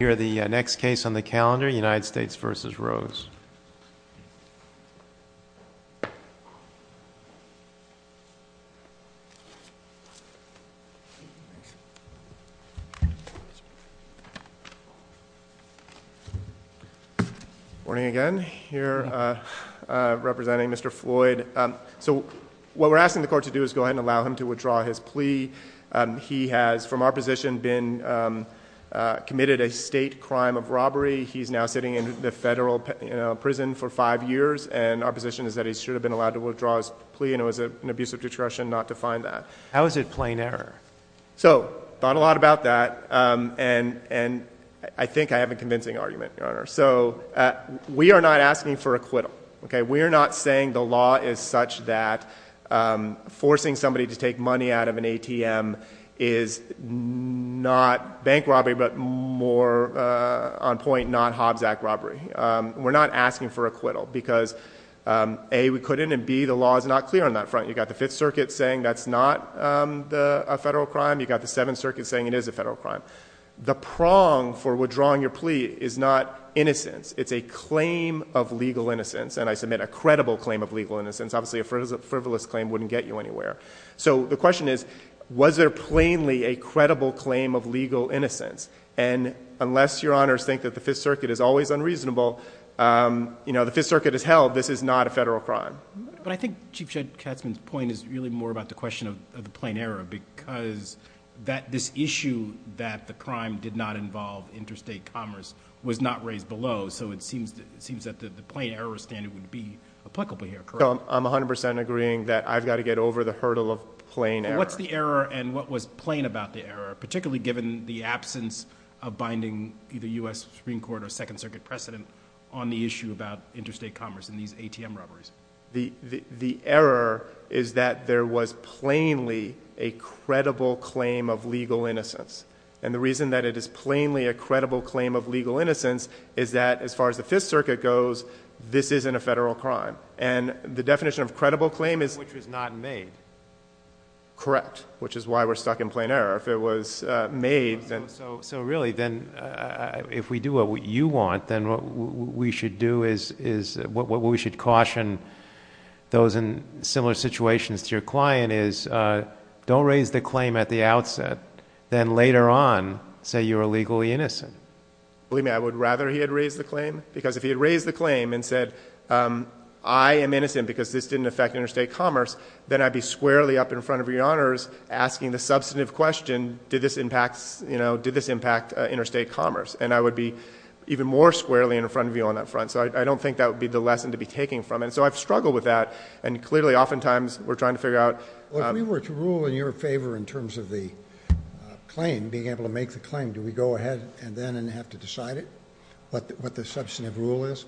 Here are the next case on the calendar, United States v. Rose. Morning again. Here representing Mr. Floyd. So what we're asking the court to do is go ahead and allow him to withdraw his plea. He has from our position been committed a state crime of robbery. He's now sitting in the federal prison for five years. And our position is that he should have been allowed to withdraw his plea. And it was an abuse of discretion not to find that. How is it plain error? So thought a lot about that. And I think I have a convincing argument, Your Honor. So we are not asking for acquittal. We are not saying the law is such that forcing somebody to take money out of an ATM is not bank robbery but more on point not Hobbs Act robbery. We're not asking for acquittal because A, we couldn't, and B, the law is not clear on that front. You've got the Fifth Circuit saying that's not a federal crime. You've got the Seventh Circuit saying it is a federal crime. The prong for withdrawing your plea is not innocence. It's a claim of legal innocence. And I submit a credible claim of legal innocence. Obviously a frivolous claim wouldn't get you anywhere. So the question is was there plainly a credible claim of legal innocence? And unless Your Honors think that the Fifth Circuit is always unreasonable, you know, the Fifth Circuit has held this is not a federal crime. But I think Chief Judge Katzman's point is really more about the question of the plain error because this issue that the crime did not involve interstate commerce was not raised below. So it seems that the plain error standard would be applicable here, correct? I'm 100% agreeing that I've got to get over the hurdle of plain error. What's the error and what was plain about the error, particularly given the absence of binding either U.S. Supreme Court or Second Circuit precedent on the issue about interstate commerce and these ATM robberies? The error is that there was plainly a credible claim of legal innocence. And the reason that it is plainly a credible claim of legal innocence is that as far as the Fifth Circuit goes, this isn't a federal crime. And the definition of credible claim is... Which was not made. Correct, which is why we're stuck in plain error. So really, then, if we do what you want, then what we should do is... What we should caution those in similar situations to your client is don't raise the claim at the outset. Then later on, say you're illegally innocent. Believe me, I would rather he had raised the claim because if he had raised the claim and said, I am innocent because this didn't affect interstate commerce, then I'd be squarely up in front of your honors asking the substantive question, did this impact interstate commerce? And I would be even more squarely in front of you on that front. So I don't think that would be the lesson to be taking from it. So I've struggled with that. And clearly, oftentimes, we're trying to figure out... If we were to rule in your favor in terms of the claim, being able to make the claim, do we go ahead and then have to decide it, what the substantive rule is?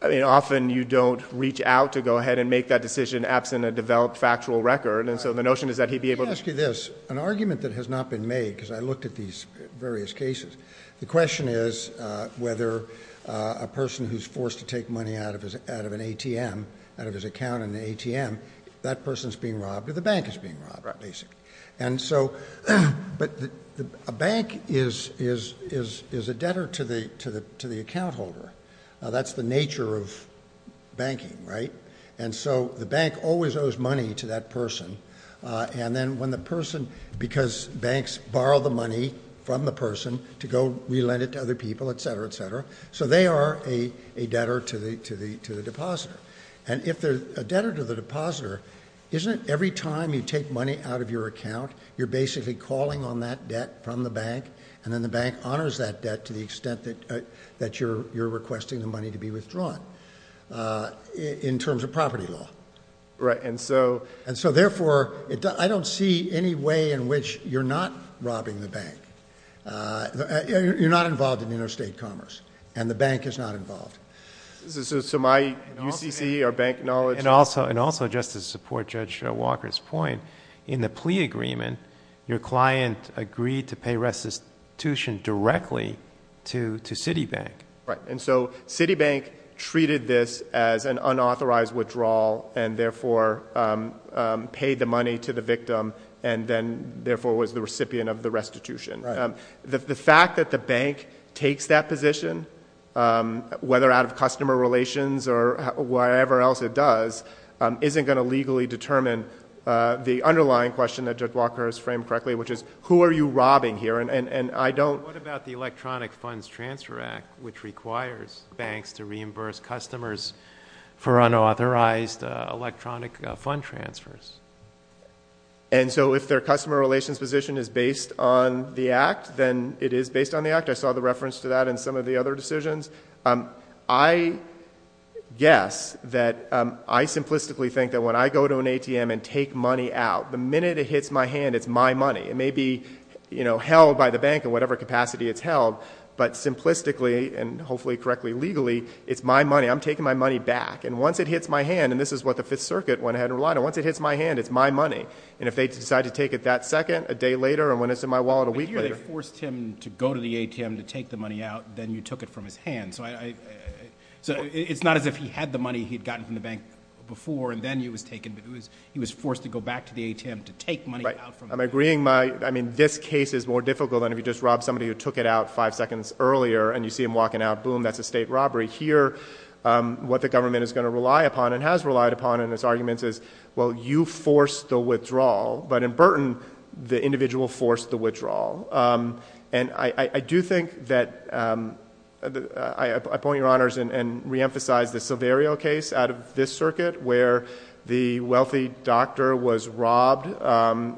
I mean, often you don't reach out to go ahead and make that decision absent a developed factual record. And so the notion is that he'd be able to... Let me ask you this. An argument that has not been made, because I looked at these various cases, the question is whether a person who's forced to take money out of an ATM, out of his account in the ATM, that person's being robbed or the bank is being robbed, basically. But a bank is a debtor to the account holder. That's the nature of banking, right? And so the bank always owes money to that person. And then when the person... Because banks borrow the money from the person to go re-lend it to other people, et cetera, et cetera. So they are a debtor to the depositor. And if they're a debtor to the depositor, isn't it every time you take money out of your account, you're basically calling on that debt from the bank, and then the bank honors that debt to the extent that you're requesting the money to be withdrawn in terms of property law? Right. And so... And so therefore, I don't see any way in which you're not robbing the bank. You're not involved in interstate commerce, and the bank is not involved. So my UCC, our bank knowledge... And also, just to support Judge Walker's point, in the plea agreement, your client agreed to pay restitution directly to Citibank. Right. And so Citibank treated this as an unauthorized withdrawal, and therefore paid the money to the victim, and then therefore was the recipient of the restitution. Right. The fact that the bank takes that position, whether out of customer relations or whatever else it does, isn't going to legally determine the underlying question that Judge Walker has framed correctly, which is, who are you robbing here? And I don't... What about the Electronic Funds Transfer Act, which requires banks to reimburse customers for unauthorized electronic fund transfers? And so if their customer relations position is based on the Act, then it is based on the Act. I saw the reference to that in some of the other decisions. I guess that I simplistically think that when I go to an ATM and take money out, the minute it hits my hand, it's my money. It may be held by the bank in whatever capacity it's held, but simplistically, and hopefully correctly legally, it's my money. I'm taking my money back. And once it hits my hand, and this is what the Fifth Circuit went ahead and relied on, once it hits my hand, it's my money. And if they decide to take it that second, a day later, or when it's in my wallet a week later... But here they forced him to go to the ATM to take the money out, then you took it from his hand. So it's not as if he had the money he had gotten from the bank before, and then it was taken. He was forced to go back to the ATM to take money out from the bank. I'm agreeing. I mean, this case is more difficult than if you just robbed somebody who took it out five seconds earlier, and you see him walking out. Boom, that's a state robbery. Here, what the government is going to rely upon, and has relied upon in its arguments, is, well, you forced the withdrawal. But in Burton, the individual forced the withdrawal. And I do think that... I point your honors and reemphasize the Silverio case out of this circuit, where the wealthy doctor was robbed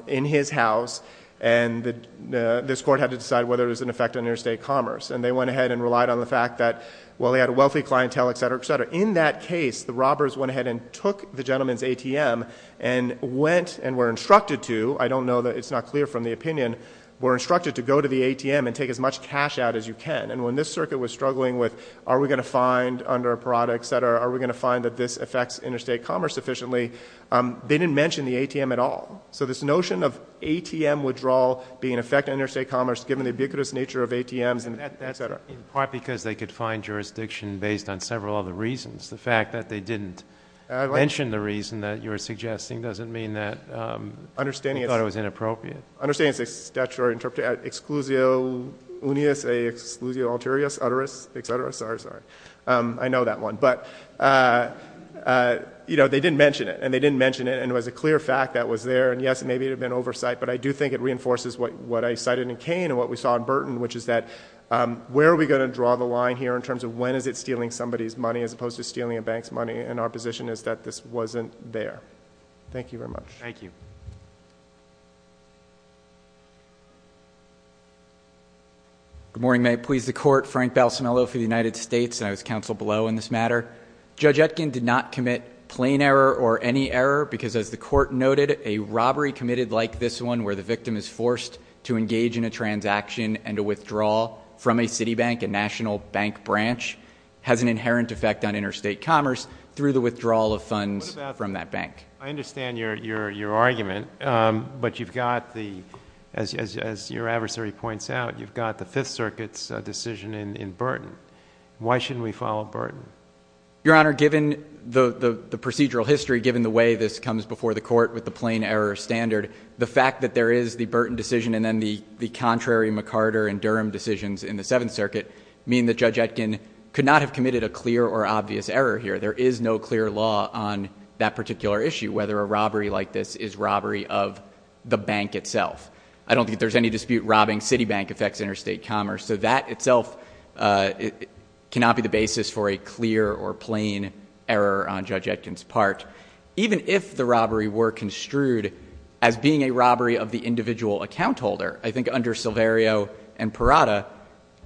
in his house, and this court had to decide whether it was an effect on interstate commerce. And they went ahead and relied on the fact that, well, they had a wealthy clientele, et cetera, et cetera. In that case, the robbers went ahead and took the gentleman's ATM and went and were instructed to. I don't know that it's not clear from the opinion. We're instructed to go to the ATM and take as much cash out as you can. And when this circuit was struggling with, are we going to find under a parada, et cetera, are we going to find that this affects interstate commerce sufficiently, they didn't mention the ATM at all. So this notion of ATM withdrawal being an effect on interstate commerce, given the ubiquitous nature of ATMs, et cetera. In part because they could find jurisdiction based on several other reasons. The fact that they didn't mention the reason that you were suggesting doesn't mean that... Understanding...... they thought it was inappropriate. Understanding it's a statutory interpretation, exclusio unius, exclusio alterius, uterus, et cetera. Sorry, sorry. I know that one. But, you know, they didn't mention it, and they didn't mention it, and it was a clear fact that was there. And, yes, maybe it had been oversight, but I do think it reinforces what I cited in Kane and what we saw in Burton, which is that where are we going to draw the line here in terms of when is it stealing somebody's money, as opposed to stealing a bank's money, and our position is that this wasn't there. Thank you very much. Thank you. Good morning. May it please the Court. Frank Balsamillo for the United States, and I was counsel below in this matter. Judge Etkin did not commit plain error or any error because, as the Court noted, a robbery committed like this one where the victim is forced to engage in a transaction and a withdrawal from a city bank, a national bank branch, has an inherent effect on interstate commerce through the withdrawal of funds from that bank. I understand your argument, but you've got the, as your adversary points out, you've got the Fifth Circuit's decision in Burton. Why shouldn't we follow Burton? Your Honor, given the procedural history, given the way this comes before the Court with the plain error standard, the fact that there is the Burton decision and then the contrary McCarter and Durham decisions in the Seventh Circuit mean that Judge Etkin could not have committed a clear or obvious error here. There is no clear law on that particular issue, whether a robbery like this is robbery of the bank itself. I don't think there's any dispute robbing city bank affects interstate commerce, so that itself cannot be the basis for a clear or plain error on Judge Etkin's part. Even if the robbery were construed as being a robbery of the individual account holder, I think under Silverio and Parada,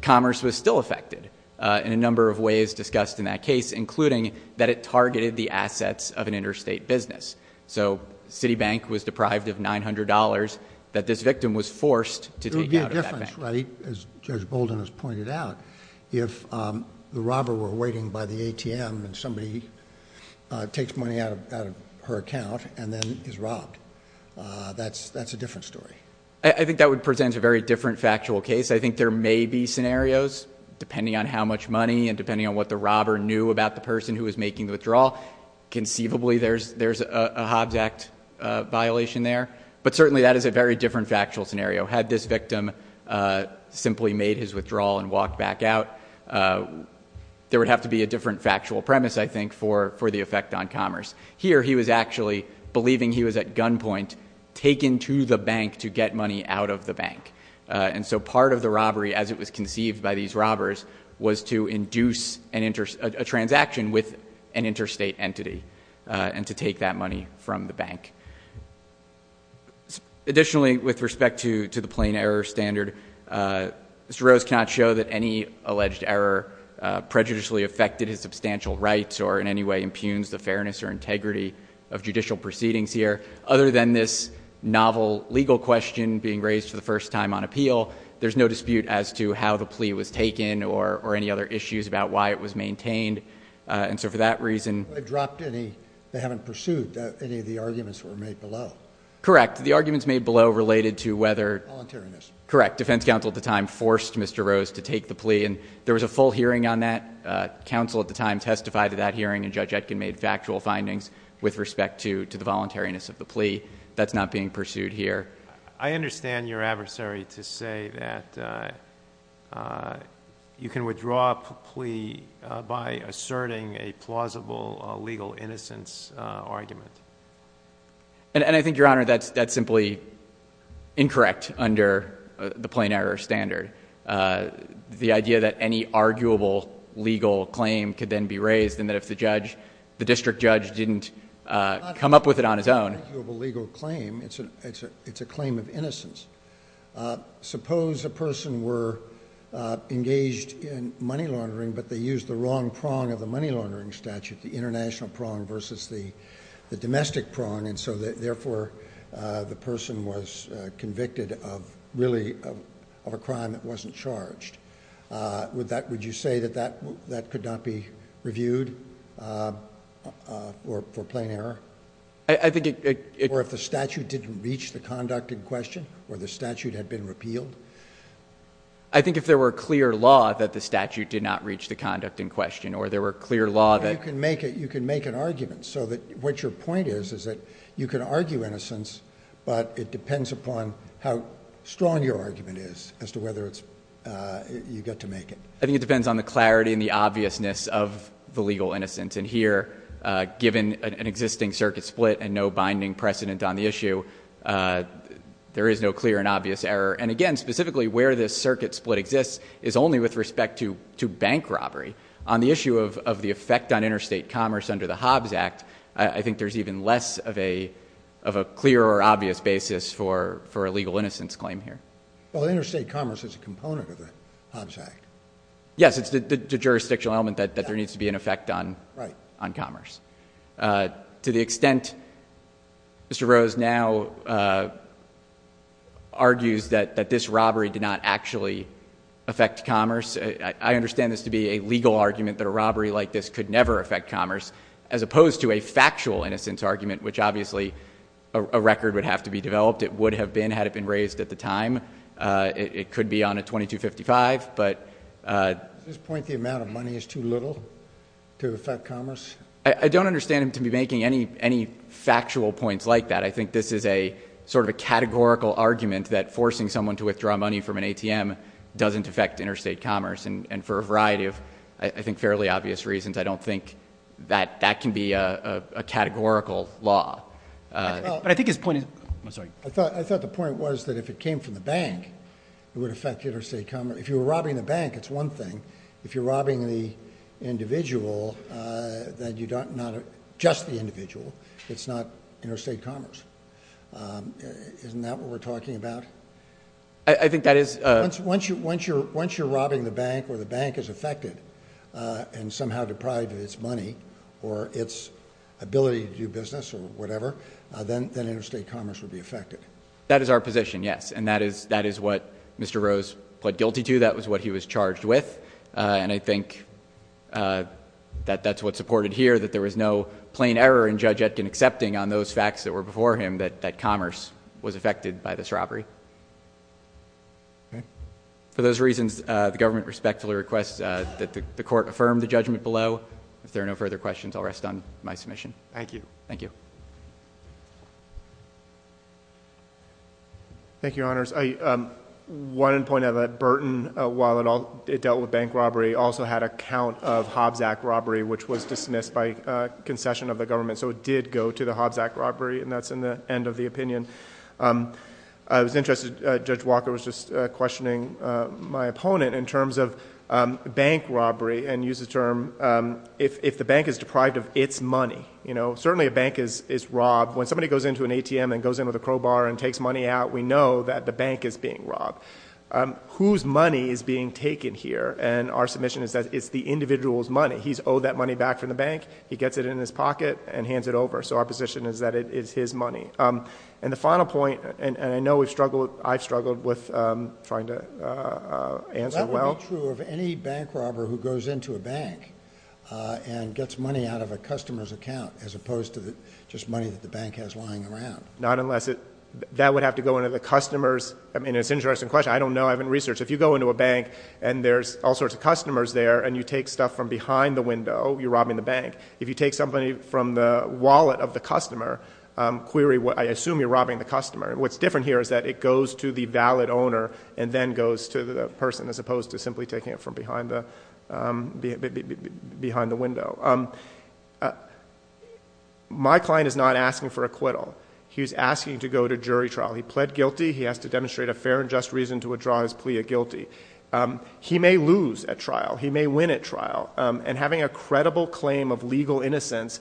commerce was still affected in a number of ways discussed in that case, including that it targeted the assets of an interstate business. So city bank was deprived of $900 that this victim was forced to take out of that bank. That's right, as Judge Bolden has pointed out. If the robber were waiting by the ATM and somebody takes money out of her account and then is robbed, that's a different story. I think that would present a very different factual case. I think there may be scenarios, depending on how much money and depending on what the robber knew about the person who was making the withdrawal, conceivably there's a Hobbs Act violation there. But certainly that is a very different factual scenario. Had this victim simply made his withdrawal and walked back out, there would have to be a different factual premise, I think, for the effect on commerce. Here he was actually believing he was at gunpoint, taken to the bank to get money out of the bank. And so part of the robbery, as it was conceived by these robbers, was to induce a transaction with an interstate entity and to take that money from the bank. Additionally, with respect to the plain error standard, Mr. Rose cannot show that any alleged error prejudicially affected his substantial rights or in any way impugns the fairness or integrity of judicial proceedings here. Other than this novel legal question being raised for the first time on appeal, there's no dispute as to how the plea was taken or any other issues about why it was maintained. And so for that reason... They haven't pursued any of the arguments that were made below. Correct. The arguments made below related to whether... Voluntariness. Correct. Defense counsel at the time forced Mr. Rose to take the plea. And there was a full hearing on that. Counsel at the time testified at that hearing, and Judge Etkin made factual findings with respect to the voluntariness of the plea. That's not being pursued here. I understand your adversary to say that you can withdraw a plea by asserting a plausible legal innocence argument. And I think, Your Honor, that's simply incorrect under the plain error standard. The idea that any arguable legal claim could then be raised and that if the district judge didn't come up with it on his own... It's a claim of innocence. Suppose a person were engaged in money laundering, but they used the wrong prong of the money laundering statute, the international prong versus the domestic prong, and so therefore the person was convicted of really a crime that wasn't charged. Would you say that that could not be reviewed for plain error? I think it... Did it reach the conduct in question or the statute had been repealed? I think if there were clear law that the statute did not reach the conduct in question or there were clear law that... You can make an argument. So what your point is is that you can argue innocence, but it depends upon how strong your argument is as to whether you get to make it. I think it depends on the clarity and the obviousness of the legal innocence. And here, given an existing circuit split and no binding precedent on the issue, there is no clear and obvious error. And again, specifically where this circuit split exists is only with respect to bank robbery. On the issue of the effect on interstate commerce under the Hobbs Act, I think there's even less of a clear or obvious basis for a legal innocence claim here. Well, interstate commerce is a component of the Hobbs Act. Yes, it's the jurisdictional element that there needs to be an effect on commerce. To the extent Mr. Rose now argues that this robbery did not actually affect commerce, I understand this to be a legal argument that a robbery like this could never affect commerce, as opposed to a factual innocence argument, which obviously a record would have to be developed. It would have been had it been raised at the time. It could be on a 2255. Does this point the amount of money is too little to affect commerce? I don't understand him to be making any factual points like that. I think this is sort of a categorical argument that forcing someone to withdraw money from an ATM doesn't affect interstate commerce. And for a variety of, I think, fairly obvious reasons, I don't think that that can be a categorical law. I thought the point was that if it came from the bank, it would affect interstate commerce. If you were robbing the bank, it's one thing. If you're robbing the individual, not just the individual, it's not interstate commerce. Isn't that what we're talking about? I think that is. Once you're robbing the bank or the bank is affected and somehow deprived of its money or its ability to do business or whatever, then interstate commerce would be affected. That is our position, yes. And that is what Mr. Rose pled guilty to. That was what he was charged with. And I think that that's what's supported here, that there was no plain error in Judge Etkin accepting on those facts that were before him that commerce was affected by this robbery. For those reasons, the government respectfully requests that the court affirm the judgment below. If there are no further questions, I'll rest on my submission. Thank you. Thank you. Thank you, Your Honors. I wanted to point out that Burton, while it dealt with bank robbery, also had a count of Hobbs Act robbery, which was dismissed by concession of the government. So it did go to the Hobbs Act robbery, and that's in the end of the opinion. I was interested, Judge Walker was just questioning my opponent in terms of bank robbery and used the term if the bank is deprived of its money. Certainly a bank is robbed. When somebody goes into an ATM and goes in with a crowbar and takes money out, we know that the bank is being robbed. Whose money is being taken here? And our submission is that it's the individual's money. He's owed that money back from the bank. He gets it in his pocket and hands it over. So our position is that it is his money. And the final point, and I know we've struggled, I've struggled with trying to answer well. It would be true of any bank robber who goes into a bank and gets money out of a customer's account as opposed to just money that the bank has lying around. Not unless it – that would have to go into the customer's – I mean, it's an interesting question. I don't know. I haven't researched. If you go into a bank and there's all sorts of customers there and you take stuff from behind the window, you're robbing the bank. If you take something from the wallet of the customer, I assume you're robbing the customer. What's different here is that it goes to the valid owner and then goes to the person as opposed to simply taking it from behind the window. My client is not asking for acquittal. He's asking to go to jury trial. He pled guilty. He has to demonstrate a fair and just reason to withdraw his plea of guilty. He may lose at trial. He may win at trial. And having a credible claim of legal innocence,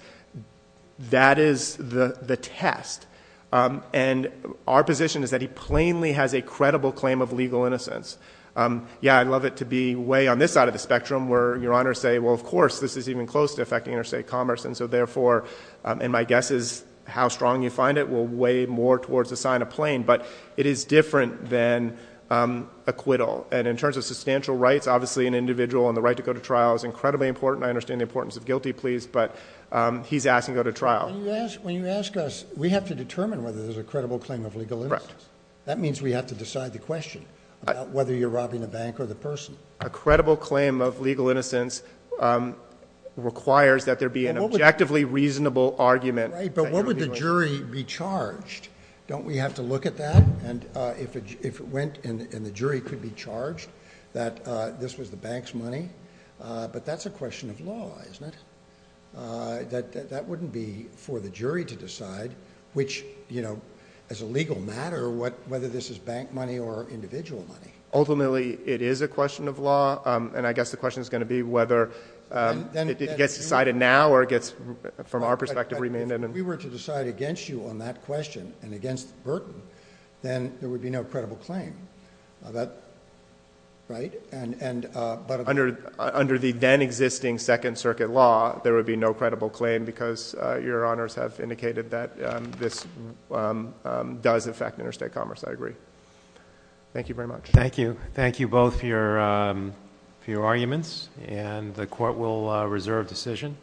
that is the test. And our position is that he plainly has a credible claim of legal innocence. Yeah, I'd love it to be way on this side of the spectrum where your honors say, well, of course, this is even close to affecting interstate commerce. And so therefore – and my guess is how strong you find it will weigh more towards the sign of plain. But it is different than acquittal. And in terms of substantial rights, obviously an individual and the right to go to trial is incredibly important. I understand the importance of guilty pleas, but he's asking to go to trial. When you ask us, we have to determine whether there's a credible claim of legal innocence. That means we have to decide the question about whether you're robbing a bank or the person. A credible claim of legal innocence requires that there be an objectively reasonable argument. Right, but what would the jury be charged? Don't we have to look at that? And if it went and the jury could be charged that this was the bank's money? But that's a question of law, isn't it? That wouldn't be for the jury to decide, which, you know, as a legal matter, whether this is bank money or individual money. Ultimately, it is a question of law, and I guess the question is going to be whether it gets decided now or it gets, from our perspective, remanded. If we were to decide against you on that question and against Burton, then there would be no credible claim. Right? Under the then-existing Second Circuit law, there would be no credible claim because your Honors have indicated that this does affect interstate commerce. I agree. Thank you very much. Thank you. Thank you both for your arguments, and the Court will reserve decision.